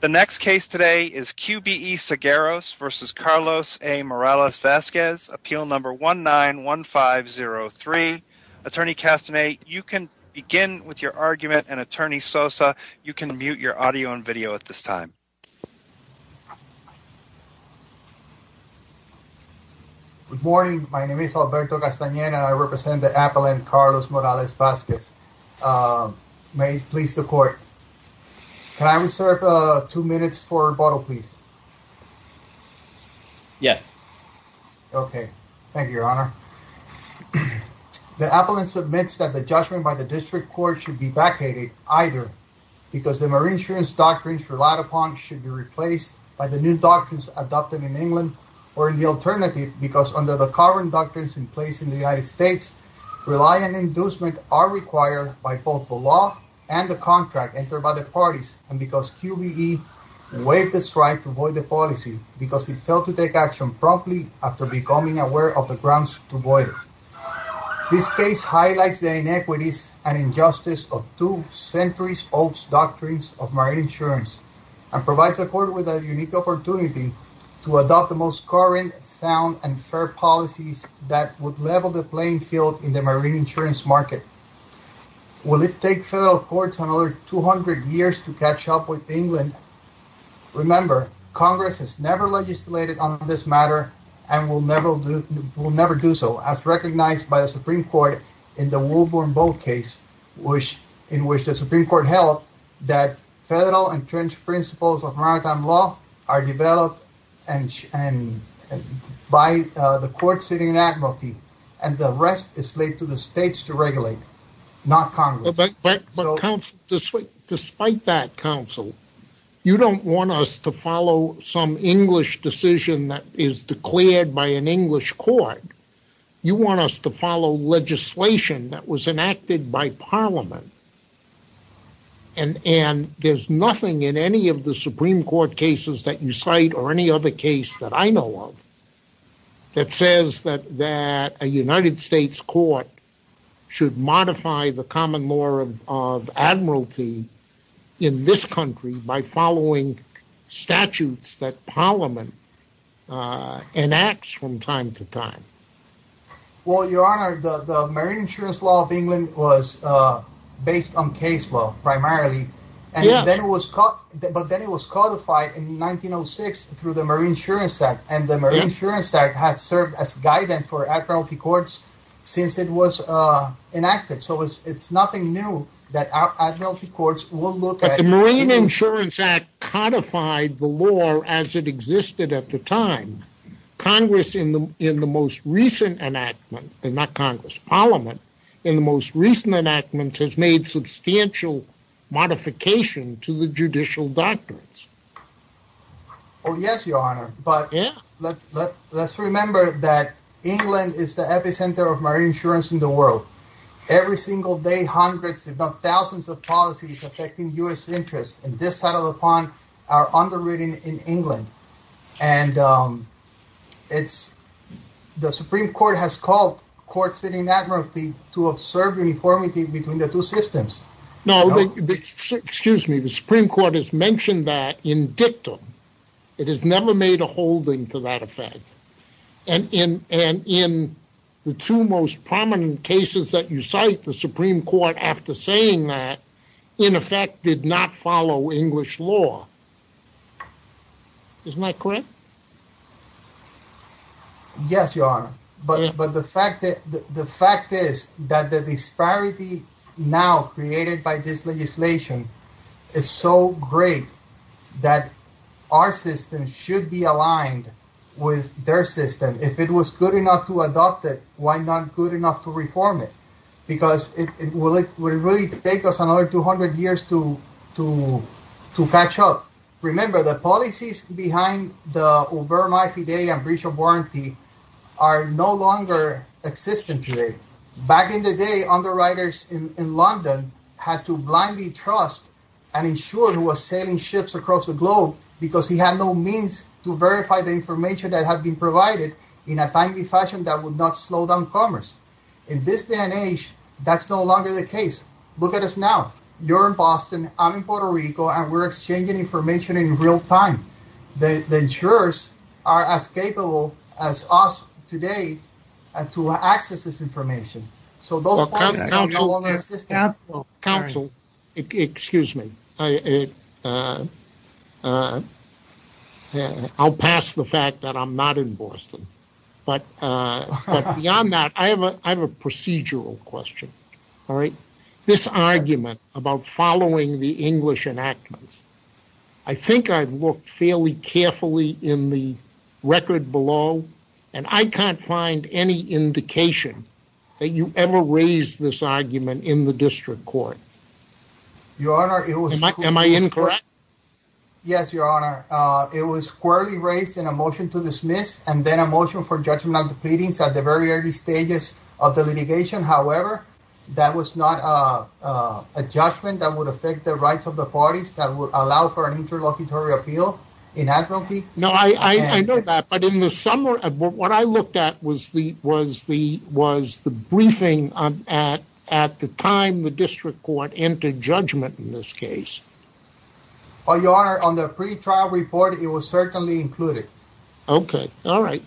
The next case today is QBE Seguros v. Carlos A. Morales-Vazquez, appeal number 191503. Attorney Castanet, you can begin with your argument and attorney Sosa, you can mute your audio and video at this time. Good morning, my name is Alberto Castanet and I represent the appellant Carlos Morales-Vazquez. May it please the court, can I reserve two minutes for rebuttal please? Yes. Okay, thank you your honor. The appellant submits that the judgment by the district court should be vacated either because the marine insurance doctrines relied upon should be replaced by the new doctrines adopted in England or in the alternative because under the current doctrines in place in the United States, rely and inducement are required by both the law and the contract entered by the parties and because QBE waived the strike to void the policy because it failed to take action promptly after becoming aware of the grounds to void it. This case highlights the inequities and injustice of two centuries-old doctrines of marine insurance and provides a court with a unique opportunity to adopt the most current, sound and fair policies that would level the playing field in the marine insurance market. Will it take federal courts another 200 years to catch up with England? Remember, Congress has never legislated on this matter and will never do so as recognized by the Supreme Court in the Wolburn boat case in which the Supreme Court held that federal entrenched principles of maritime law are developed by the court sitting in Admiralty and the rest is laid to the states to regulate, not Congress. Despite that counsel, you don't want us to follow some English decision that is declared by an Parliament and there's nothing in any of the Supreme Court cases that you cite or any other case that I know of that says that a United States court should modify the common law of Admiralty in this country by following statutes that Parliament enacts from time to time. Well, Your Honor, the marine insurance law of England was based on case law primarily but then it was codified in 1906 through the Marine Insurance Act and the Marine Insurance Act has served as guidance for Admiralty courts since it was enacted so it's nothing new that Admiralty courts will look at... But the Marine Insurance Act codified the law as it existed at the time. Congress in the most recent enactment, not Congress, Parliament in the most recent enactments has made substantial modification to the judicial doctrines. Oh yes, Your Honor, but let's remember that England is the epicenter of marine insurance in the world. Every single day hundreds if not thousands of policies affecting U.S. interests and this are underwritten in England and the Supreme Court has called courts in Admiralty to observe uniformity between the two systems. No, excuse me, the Supreme Court has mentioned that in dictum. It has never made a holding to that effect and in the two most prominent cases that you cite, the Supreme Court after saying that in effect did not follow English law. Isn't that correct? Yes, Your Honor, but the fact is that the disparity now created by this legislation is so great that our system should be aligned with their system. If it was good enough to adopt it, why not good enough to reform it? Because it would really take us another 200 years to catch up. Remember, the policies behind the Ubermai Fidei and breach of warranty are no longer existent today. Back in the day, underwriters in London had to blindly trust an insurer who was selling ships across the globe because he had no means to verify the commerce. In this day and age, that's no longer the case. Look at us now. You're in Boston, I'm in Puerto Rico, and we're exchanging information in real time. The insurers are as capable as us today to access this information. So those policies no longer exist. Counsel, excuse me. I'll pass the fact that I'm not in Boston. But beyond that, I have a procedural question. This argument about following the English enactments, I think I've looked fairly carefully in the record below, and I can't find any indication that you ever raised this argument in the district court. Your Honor, it was... Am I incorrect? Yes, Your Honor. It was squarely raised in a motion to dismiss and then a motion for judgment of the pleadings at the very early stages of the litigation. However, that was not a judgment that would affect the rights of the parties that would allow for an interlocutory appeal in advocacy. No, I know that. But in the was the briefing at the time the district court entered judgment in this case. Oh, Your Honor, on the pretrial report, it was certainly included. Okay. All right.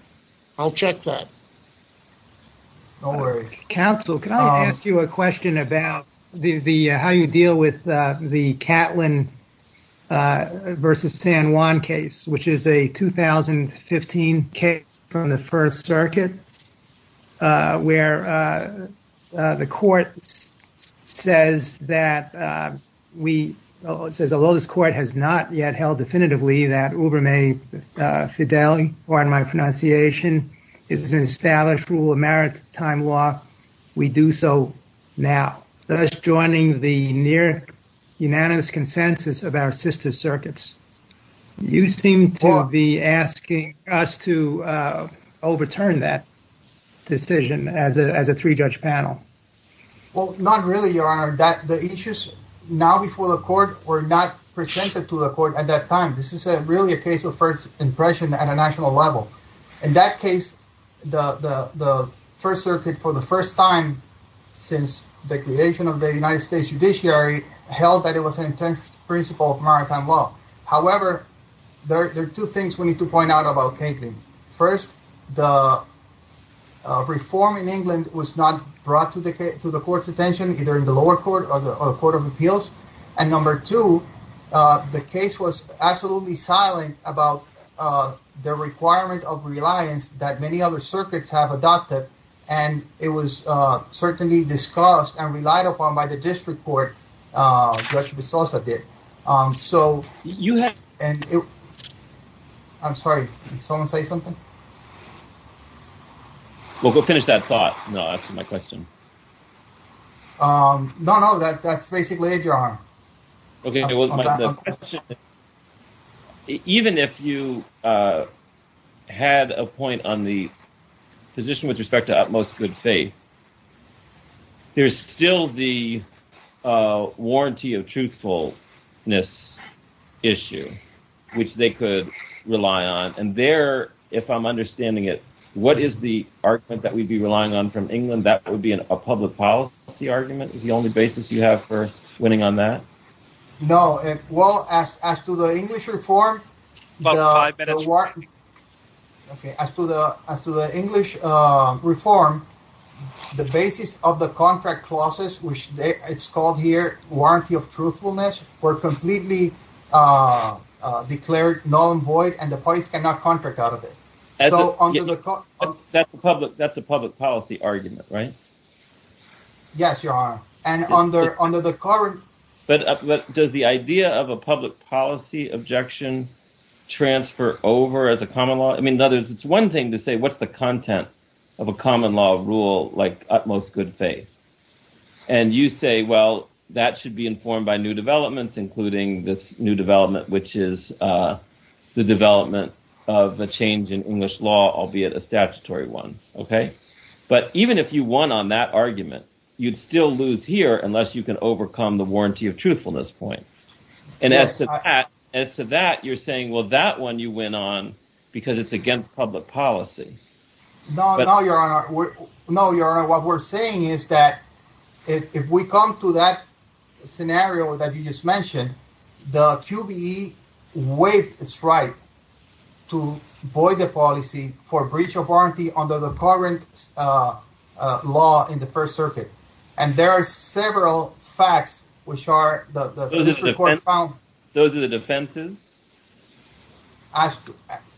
I'll check that. No worries. Counsel, can I ask you a question about how you deal with the Catlin versus San Juan case, which is a 2015 case from the First Circuit, where the court says that we... It says, although this court has not yet held definitively that Ubermaid-Fidelity, pardon my pronunciation, is an established rule of maritime law, we do so now. Thus joining the unanimous consensus of our sister circuits. You seem to be asking us to overturn that decision as a three-judge panel. Well, not really, Your Honor. The issues now before the court were not presented to the court at that time. This is really a case of first impression at a national level. In that case, the First Circuit, for the first time since the creation of the United States Judiciary, held that it was an intense principle of maritime law. However, there are two things we need to point out about Catlin. First, the reform in England was not brought to the court's attention, either in the lower court or the Court of Appeals. And number two, the case was absolutely silent about the requirement of reliance that many other circuits have adopted. And it was certainly discussed and relied upon by the district court, Judge de Sousa did. I'm sorry, did someone say something? Well, go finish that thought. No, that's my question. No, no, that's basically it, Your Honor. Even if you had a point on the position with respect to utmost good faith, there's still the warranty of truthfulness issue, which they could rely on. And there, if I'm understanding it, what is the argument that we'd be relying on from England? That would be a public policy argument is the only basis you have for winning on that? No. Well, as to the English reform, the basis of the contract clauses, which it's called here, warranty of truthfulness, were completely declared null and void, and the parties cannot contract out of it. That's a public policy argument, right? Yes, Your Honor. And under the current... Does the idea of a public policy objection transfer over as a common law? I mean, it's one thing to say, what's the content of a common law rule like utmost good faith? And you say, well, that should be informed by new developments, including this new development, which is the development of a change in English law, albeit a statutory one, okay? But even if you won on that argument, you'd still lose here unless you can overcome the warranty of truthfulness point. And as to that, you're saying, well, that one you went on because it's against public policy. No, Your Honor, what we're saying is that if we come to that scenario that you just mentioned, the QBE waived its right to void the policy for breach of warranty under the current law in the First Circuit. And there are several facts which are... Those are the defenses?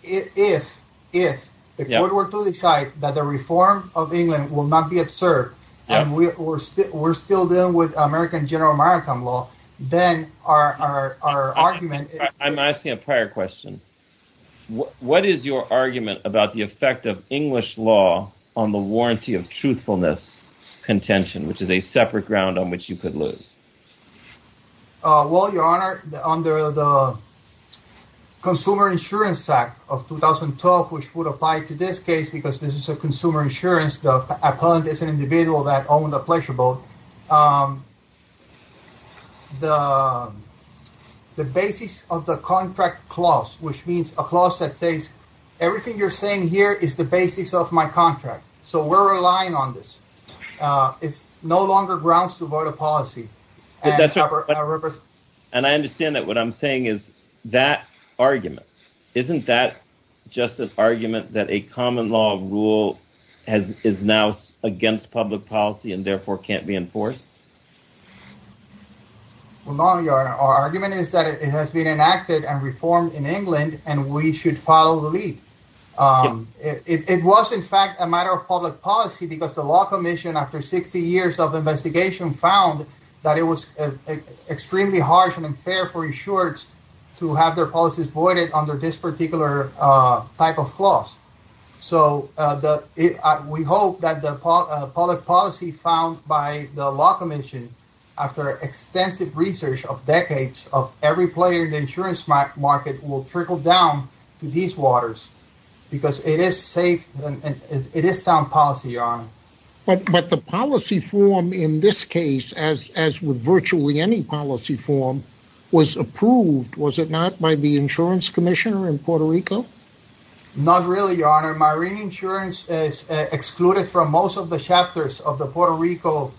If the court were to decide that the reform of England will not be observed, and we're still dealing with American general maritime law, then our argument... I'm asking a prior question. What is your argument about the effect of English law on the warranty of truthfulness contention, which is a separate ground on which you could lose? Well, Your Honor, under the Consumer Insurance Act of 2012, which would apply to this case, because this is a consumer insurance, the appellant is an individual that owned a pleasure boat. The basis of the contract clause, which means a clause that says everything you're saying here is the basis of my contract. So we're relying on this. It's no longer grounds to void a policy. And I understand that what I'm saying is that argument. Isn't that just an argument that a force? Well, no, Your Honor. Our argument is that it has been enacted and reformed in England, and we should follow the lead. It was, in fact, a matter of public policy because the Law Commission after 60 years of investigation found that it was extremely harsh and unfair for insurers to have their policies voided under this particular type of clause. So we hope that public policy found by the Law Commission after extensive research of decades of every player in the insurance market will trickle down to these waters because it is safe and it is sound policy, Your Honor. But the policy form in this case, as with virtually any policy form, was approved, was it not, by the insurance commissioner in Puerto Rico? Not really, Your Honor. Marine insurance is of the chapters of the Puerto Rico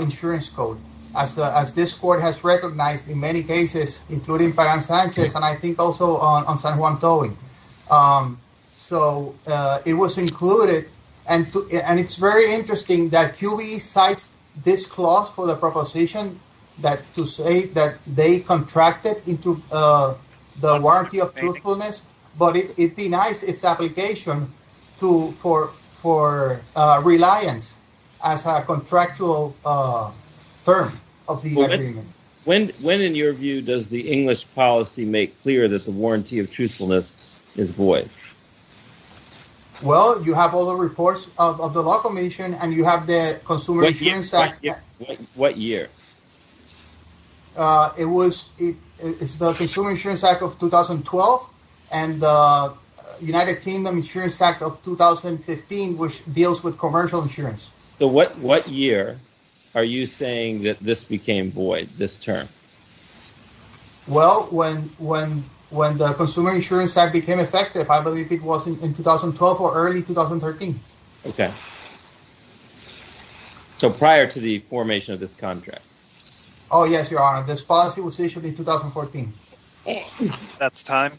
insurance code, as this court has recognized in many cases, including Pagan Sanchez and I think also on San Juan Towing. So it was included. And it's very interesting that QBE cites this clause for the proposition that to say that they contracted into the warranty of truthfulness, but it denies its application for reliance as a contractual term of the agreement. When, in your view, does the English policy make clear that the warranty of truthfulness is void? Well, you have all the reports of the Law Commission and you have the Consumer Insurance Act of 2012 and the United Kingdom Insurance Act of 2015, which deals with commercial insurance. So what year are you saying that this became void, this term? Well, when the Consumer Insurance Act became effective, I believe it was in 2012 or early 2013. Okay. So prior to the formation of this contract? Oh, yes, Your Honor. This policy was issued in 2014. That's time.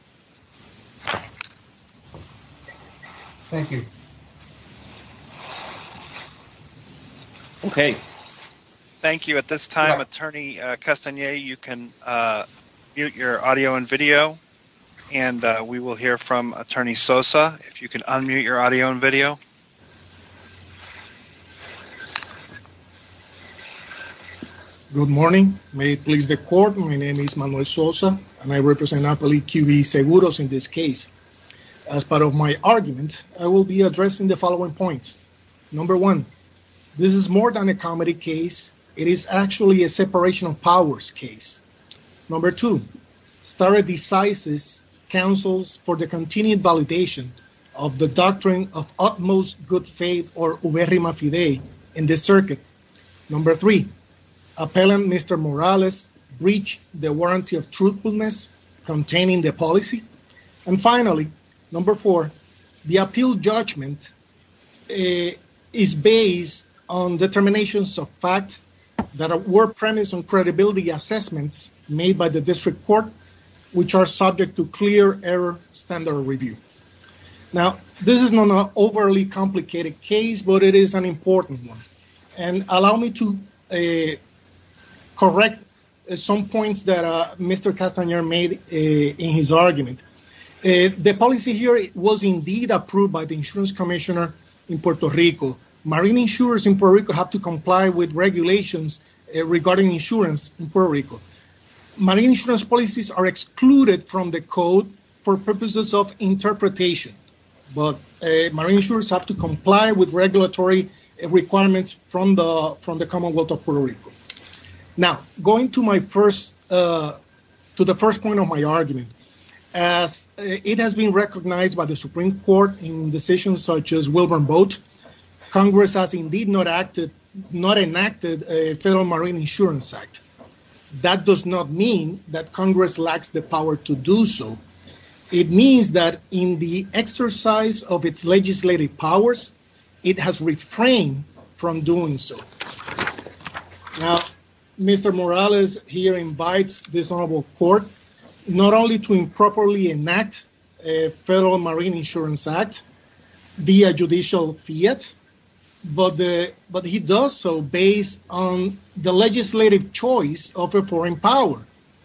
Thank you. Okay. Thank you. At this time, Attorney Castanier, you can mute your audio and video and we will hear from Attorney Sosa. If you can unmute your audio and video. Good morning. May it please the Court, my name is Manuel Sosa and I represent Napoli QB Seguros in this case. As part of my argument, I will be addressing the following points. Number one, this is more than a comedy case. It is actually a separation of powers case. Number two, stare decisis counsels for the continued validation of the doctrine of utmost good faith or appellant Mr. Morales breach the warranty of truthfulness containing the policy. And finally, number four, the appeal judgment is based on determinations of fact that were premised on credibility assessments made by the district court, which are subject to clear error standard review. Now, this is not an overly complicated case, but it is an important one. And allow me to correct some points that Mr. Castanier made in his argument. The policy here was indeed approved by the insurance commissioner in Puerto Rico. Marine insurers in Puerto Rico have to comply with regulations regarding insurance in Puerto Rico. Marine insurance policies are excluded from the code for purposes of interpretation, but marine insurers have to comply with regulatory requirements from the Commonwealth of Puerto Rico. Now, going to the first point of my argument, as it has been recognized by the Supreme Court in decisions such as Wilbur Boat, Congress has indeed not enacted a federal marine insurance act. That does not mean that Congress lacks the power to do so. It means that in the exercise of its legislative powers, it has refrained from doing so. Now, Mr. Morales here invites this honorable court not only to improperly enact a federal marine insurance act via judicial fiat, but he does so based on the legislative choice of a foreign power.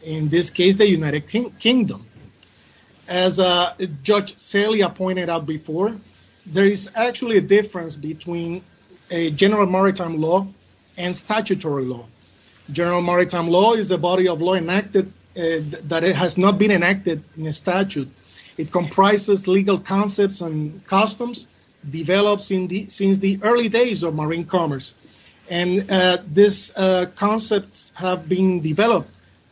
In this case, the United Kingdom. As Judge Celia pointed out before, there is actually a difference between a general maritime law and statutory law. General maritime law is a body of law that has not been enacted in statute. It comprises legal concepts and customs developed since the early days of marine commerce. These concepts have been developed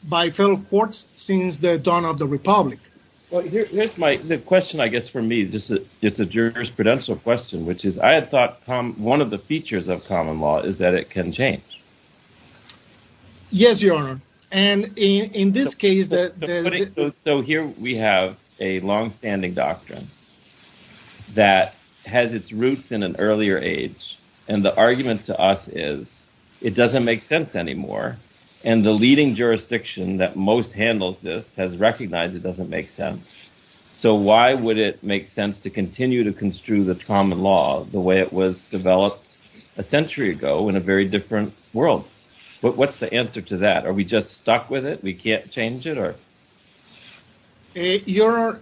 by federal courts since the dawn of the republic. Here's my question, I guess, for me. It's a jurisprudential question, which is, I had thought one of the features of common law is that it can change. Yes, your honor. And in this case that. So here we have a long-standing doctrine that has its roots in an earlier age. And the argument to us is it doesn't make sense anymore. And the leading jurisdiction that most handles this has recognized it doesn't make sense. So why would it make sense to continue to construe the common law the way it was developed a century ago in a very different world? But what's the answer to that? Are we just stuck with it? We can't change it or. Your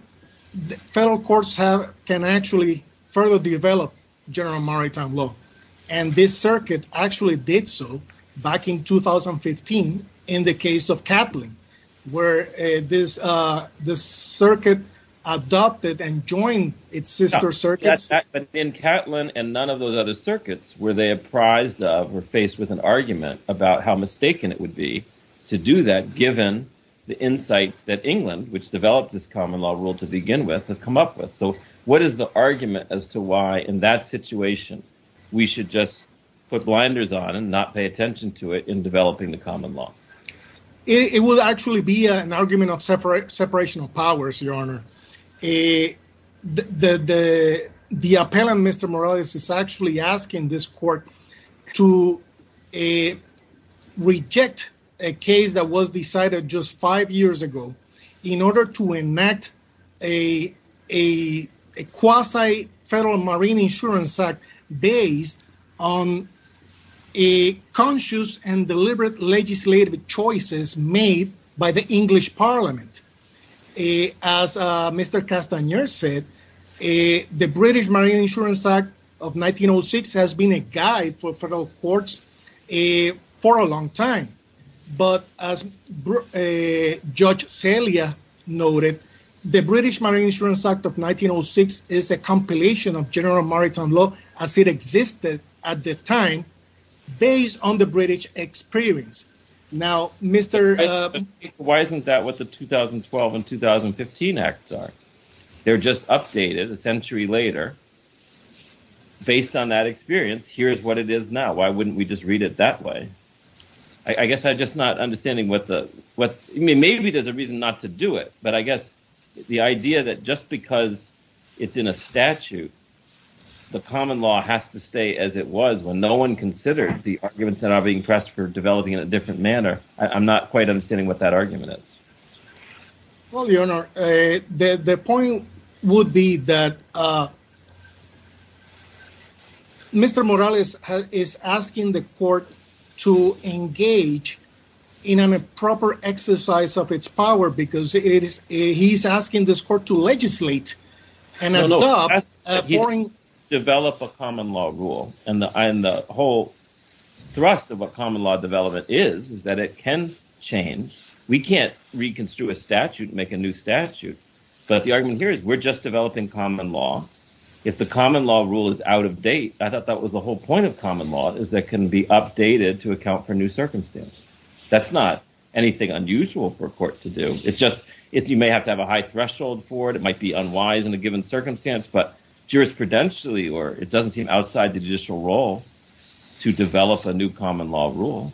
federal courts have can actually further develop general maritime law. And this circuit actually did so back in 2015 in the case of Kaplan, where this circuit adopted and joined its sister circuits. But in Kaplan and none of those other circuits were they apprised of or faced with an argument about how mistaken it would be to do that, given the insights that England, which developed this common law rule to begin with, to come up with. So what is the argument as to why in that situation we should just put blinders on and not pay attention to it in developing the common law? It will actually be an argument of separate separation of powers, Your Honor. The the the appellant, Mr. Morales, is actually asking this court to a reject a case that was decided just five years ago in order to enact a a quasi federal marine insurance act based on a conscious and deliberate legislative choices made by the English parliament. As Mr. Castaner said, the British Marine Insurance Act of 1906 has been a guide for federal courts for a long time. But as Judge Celia noted, the British Marine Insurance Act of 1906 is a general maritime law as it existed at the time based on the British experience. Now, Mr. Why isn't that what the 2012 and 2015 acts are? They're just updated a century later. Based on that experience, here's what it is now. Why wouldn't we just read it that way? I guess I just not understanding what the what maybe there's a reason not to do it. But I guess the idea that just because it's in a statute, the common law has to stay as it was when no one considered the arguments that are being pressed for developing in a different manner. I'm not quite understanding what that argument is. Well, Your Honor, the point would be that Mr. Morales is asking the court to engage in a proper exercise of its power because it is asking this court to legislate and develop a common law rule. And the whole thrust of what common law development is, is that it can change. We can't reconstruct a statute and make a new statute. But the argument here is we're just developing common law. If the common law rule is out of date, I thought that was the whole point of common law is that can be updated to have to have a high threshold for it. It might be unwise in a given circumstance, but jurisprudentially or it doesn't seem outside the judicial role to develop a new common law rule.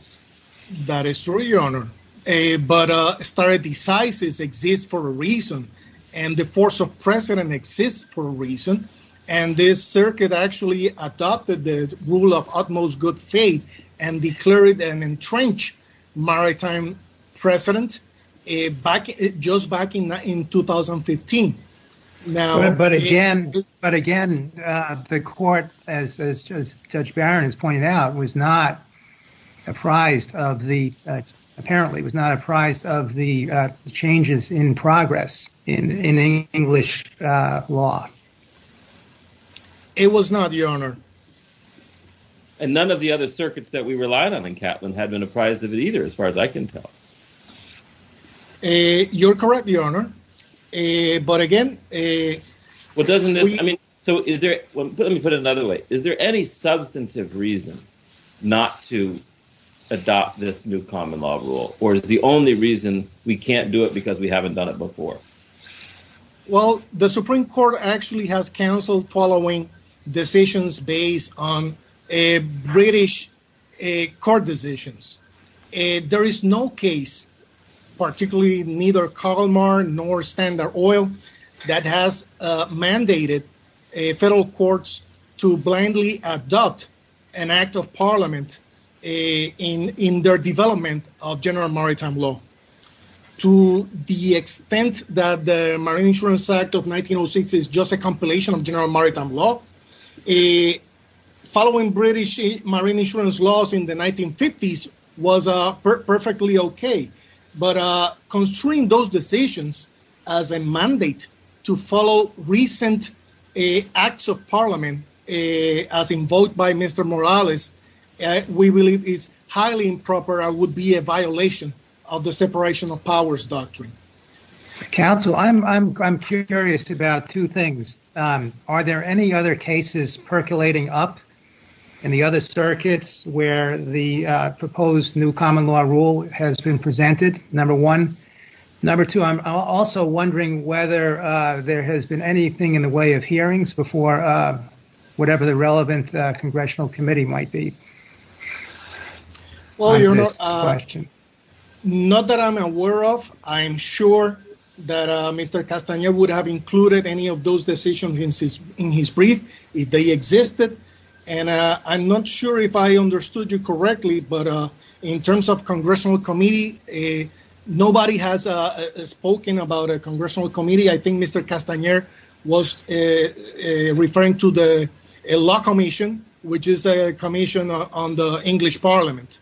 That is true, Your Honor. But stare decisis exists for a reason. And the force of precedent exists for a reason. And this circuit actually adopted the rule of utmost good faith and declared an entrenched maritime precedent just back in 2015. But again, the court, as Judge Barron has pointed out, was not apprised of the changes in progress in English law. It was not, Your Honor. And none of the other circuits that we relied on in Kaplan had been apprised of it either, as far as I can tell. You're correct, Your Honor. But again, what doesn't this mean? So is there let me put it another way. Is there any substantive reason not to adopt this new common law rule? Or is the only reason we can't do it because we haven't done it before? Well, the Supreme Court actually has counseled following decisions based on a British court decisions. There is no case, particularly neither Kalmar nor Standard Oil, that has mandated federal courts to blindly adopt an act of Parliament in their development of general maritime law. To the extent that the Marine Insurance Act of 1906 is just a compilation of general maritime law, following British marine insurance laws in the 1950s was perfectly okay. But construing those decisions as a mandate to follow recent acts of Parliament, as invoked by Mr. Morales, we believe is highly improper and would be a violation of the separation of powers doctrine. Counsel, I'm curious about two things. Are there any other cases percolating up in the other circuits where the proposed new common law rule has been presented, number one? Number two, I'm also wondering whether there has been anything in the way of hearings before whatever the relevant congressional committee might be. Well, Your Honor, not that I'm aware of. I'm sure that Mr. Castaner would have included any of those decisions in his brief if they existed. And I'm not sure if I understood you correctly, but in terms of congressional committee, nobody has spoken about a congressional committee. I think Mr. Castaner was referring to the Law Commission, which is a commission on the English Parliament.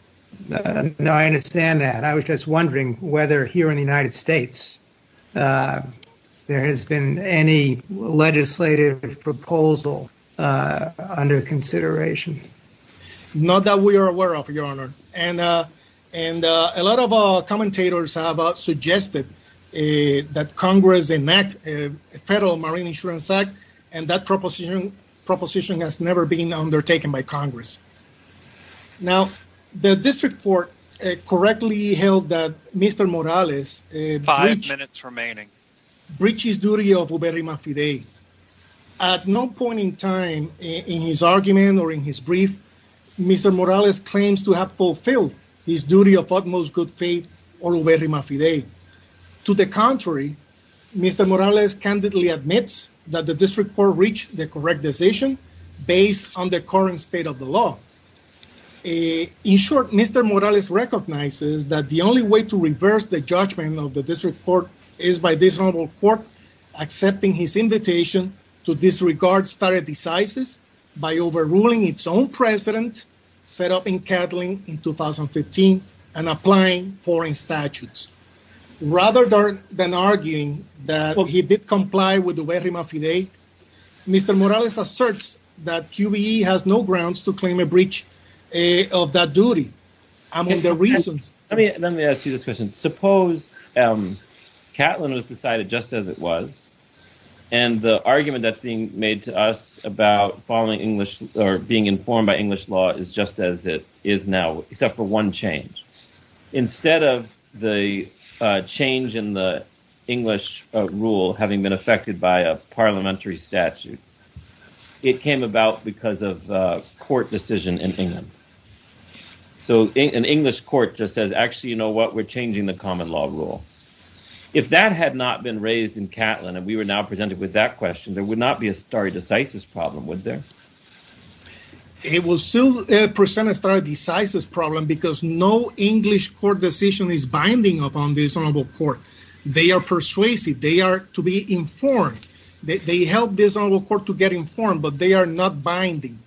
No, I understand that. I was just wondering whether here in the United States there has been any legislative proposal under consideration. Not that we are aware of, Your Honor. And a lot of commentators have suggested that Congress enact a federal marine insurance act and that proposition has never been undertaken by Congress. Now, the district court correctly held that Mr. Morales five minutes remaining breaches duty of Uberima Fidei. At no point in time in his argument or in his brief, Mr. Morales claims to have fulfilled his duty of utmost good faith or Uberima Fidei. To the contrary, Mr. Morales candidly admits that the district court reached the correct decision based on the current state of the law. In short, Mr. Morales recognizes that the only way to reverse the judgment of the district court is by this honorable court accepting his invitation to disregard stare decisis by overruling its own president, set up in Catlin in 2015 and applying foreign statutes. Rather than arguing that he did comply with Uberima Fidei, Mr. Morales asserts that QBE has no grounds to claim a breach of that duty among their reasons. Let me ask you this question. Suppose Catlin was decided just as it was and the argument that's being made to us about following English or being informed by English law is just as it is now, except for one change. Instead of the change in the English rule having been affected by a parliamentary statute, it came about because of a court decision in England. So an English court just says, actually, you know what, we're changing the common law rule. If that had not been raised in Catlin and we were now presented with that question, there would not be a stare decisis problem, would there? It will still present a stare decisis problem because no English court decision is binding upon this honorable court. They are persuasive. They are to be informed. They help this honorable court to get informed, but they are not binding.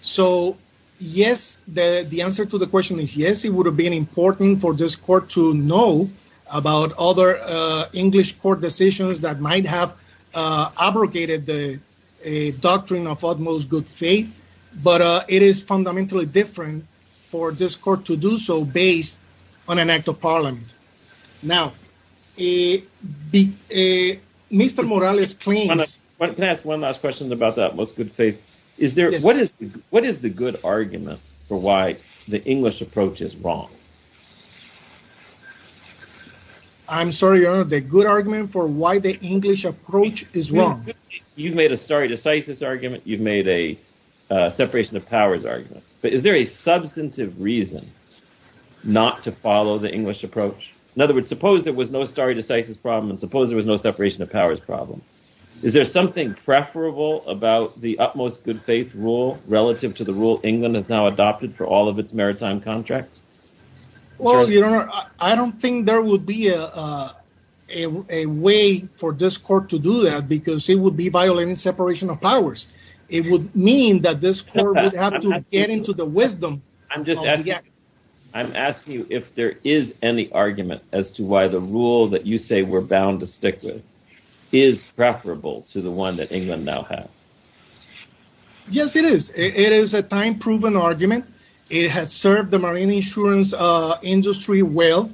So yes, the answer to the question is yes, it would have been important for this court to know about other English court decisions that might have abrogated the doctrine of utmost good faith, but it is fundamentally different for this court to do so based on an act of parliament. Now, Mr. Morales claims... Can I ask one last question about that, most good faith? What is the good argument for why the English approach is wrong? I'm sorry, your honor, the good argument for why the English approach is wrong? You've made a stare decisis argument. You've made a separation of powers argument, but is there a substantive reason not to follow the English approach? In other words, suppose there was no stare decisis problem and suppose there was no separation of powers problem. Is there something preferable about the utmost good faith rule relative to the rule England has now adopted for all of its maritime contracts? Well, your honor, I don't think there would be a way for this court to do that because it would be violating separation of powers. It would mean that this court would have to get into the wisdom... I'm asking you if there is any argument as to why the rule that you say we're bound to stick with is preferable to the one that England now has. Yes, it is. It is a time proven argument. It has served the marine insurance industry well.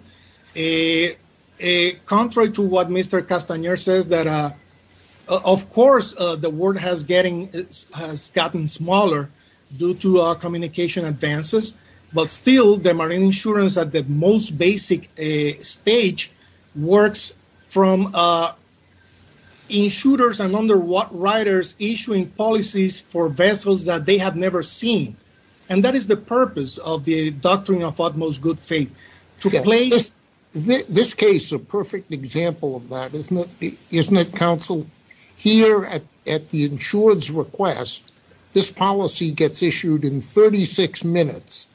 Contrary to what Mr. Castaner says that, of course, the word has gotten smaller due to communication advances, but still the marine insurance at the most basic stage works from insurers and underwriters issuing policies for vessels that they have never seen, and that is the purpose of the doctrine of utmost good faith. This case is a perfect example of that. Isn't it, counsel? Here at the insurer's request, this policy gets issued in 36 minutes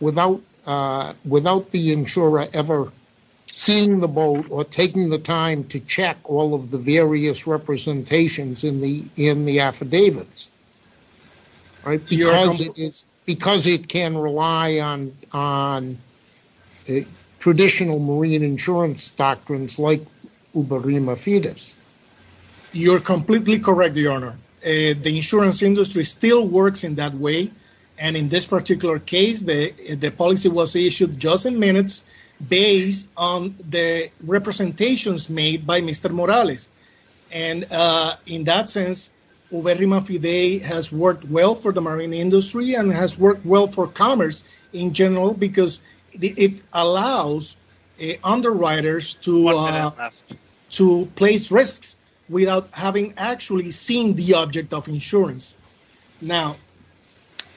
without the insurer ever seeing the boat or taking the various representations in the affidavits, because it can rely on traditional marine insurance doctrines like Uberima Fidesz. You're completely correct, Your Honor. The insurance industry still works in that way, and in this particular case, the policy was issued just in minutes based on the representations made by Mr. Morales. In that sense, Uberima Fidesz has worked well for the marine industry and has worked well for commerce in general, because it allows underwriters to place risks without having actually seen the object of insurance. Now,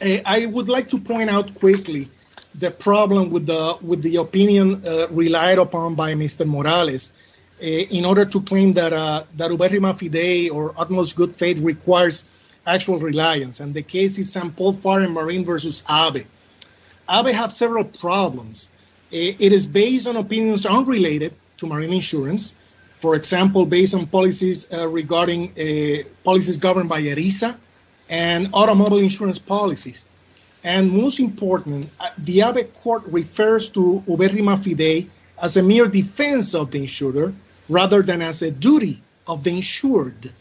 I would like to point out quickly the problem with the opinion relied upon by Mr. Morales in order to claim that Uberima Fidesz or utmost good faith requires actual reliance, and the case is St. Paul Foreign Marine versus AVE. AVE has several problems. It is based on opinions unrelated to marine insurance, for example, based on policies governed by ERISA and automobile insurance policies, and most importantly, the AVE court refers to Uberima Fidesz as a mere defense of the insurer rather than as a duty of the insured.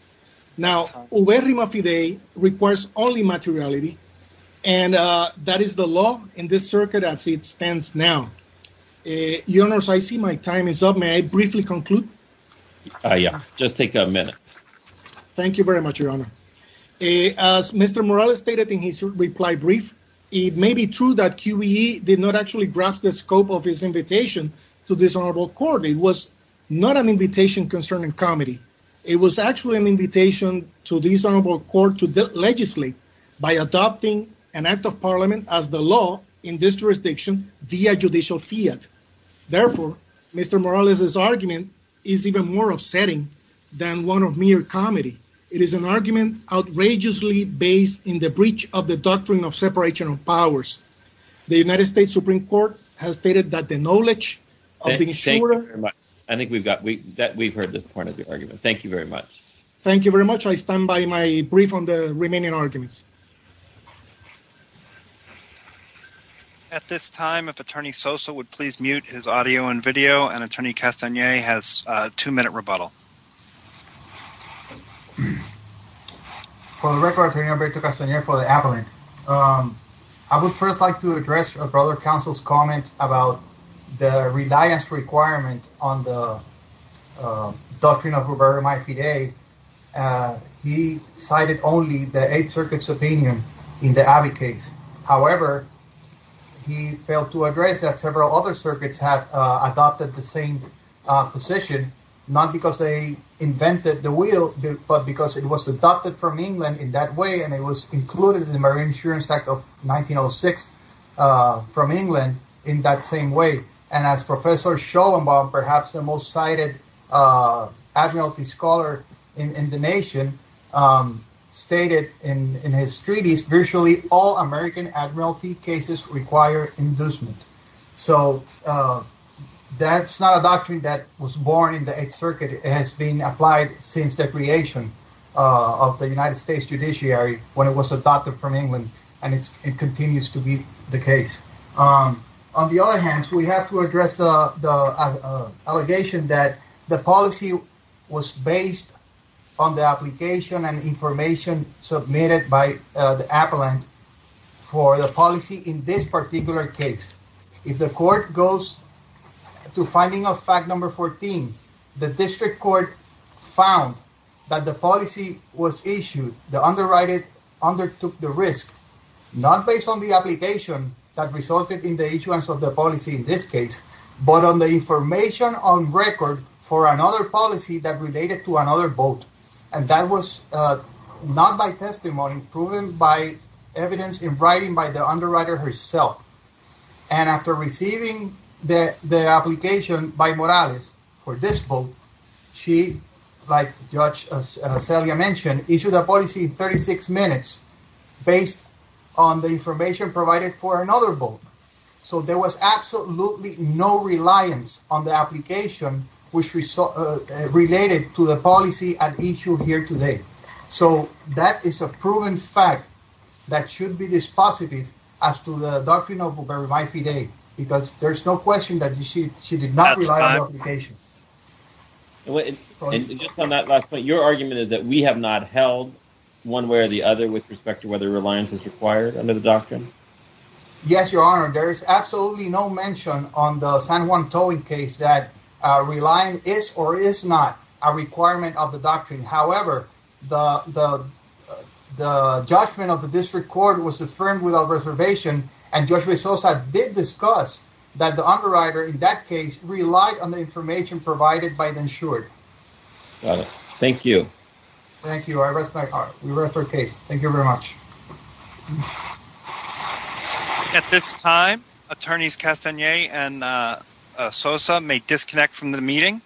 Now, Uberima Fidesz requires only materiality, and that is the law in this circuit as it stands now. Your Honor, I see my time is up. May I briefly conclude? Yeah, just take a minute. Thank you very much, Your Honor. As Mr. Morales stated in his reply brief, it may be true that QBE did not actually grasp the scope of his invitation to this honorable court. It was not an invitation concerning comedy. It was actually an invitation to this honorable court to legislate by adopting an act of parliament as the law in this jurisdiction via judicial fiat. Therefore, Mr. Morales's argument is even more upsetting than one of mere comedy. It is an argument outrageously based in the breach of the doctrine of separation of powers. The United States Supreme Court has stated that the knowledge of the insurer... I think we've heard this point of the argument. Thank you very much. Thank you very much. I stand by my brief on the remaining arguments. At this time, if Attorney Sosa would please mute his audio and video, and Attorney Castanier has a two-minute rebuttal. For the record, I'm Roberto Castanier for the Avalanche. I would first like to address Brother Counsel's comment about the reliance requirement on the doctrine of Roberto Maifide. He cited only the Eighth Circuit's opinion in the Abbey case. However, he failed to address that several other circuits have adopted the same position, not because they invented the wheel, but because it was adopted from England in that way, and it was included in the Marine Insurance Act of 1906 from England in that same way. And as Professor Schollenbaum, perhaps the most cited admiralty scholar in the nation, stated in his treatise, virtually all American admiralty cases require inducement. So that's not a doctrine that was born in the Eighth Circuit. It has been applied since the creation of the United States judiciary when it was adopted from England, and it continues to be the case. On the other hand, we have to address the allegation that the policy was based on the application and information submitted by the policy in this particular case. If the court goes to finding of fact number 14, the district court found that the policy was issued, the underwriting undertook the risk, not based on the application that resulted in the issuance of the policy in this case, but on the information on record for another policy that related to another boat, and that was not by testimony, proven by evidence in writing by the underwriter herself. And after receiving the application by Morales for this boat, she, like Judge Celia mentioned, issued a policy in 36 minutes based on the information provided for another boat. So there was absolutely no reliance on the application which related to the policy at issue here today. So that is a proven fact that should be dispositive as to the doctrine of Uberamay Fidei, because there's no question that she did not rely on the application. Your argument is that we have not held one way or the other with respect to whether reliance is required under the doctrine? Yes, Your Honor. There is absolutely no mention on the San Juan towing case that relying is or is not a requirement of the doctrine. However, the judgment of the district court was affirmed without reservation, and Judge Rezosa did discuss that the underwriter in that case relied on the information provided by the insured. Thank you. Thank you. I respect your case. Thank you very much. At this time, Attorneys Castaneda and Sosa may disconnect from the meeting.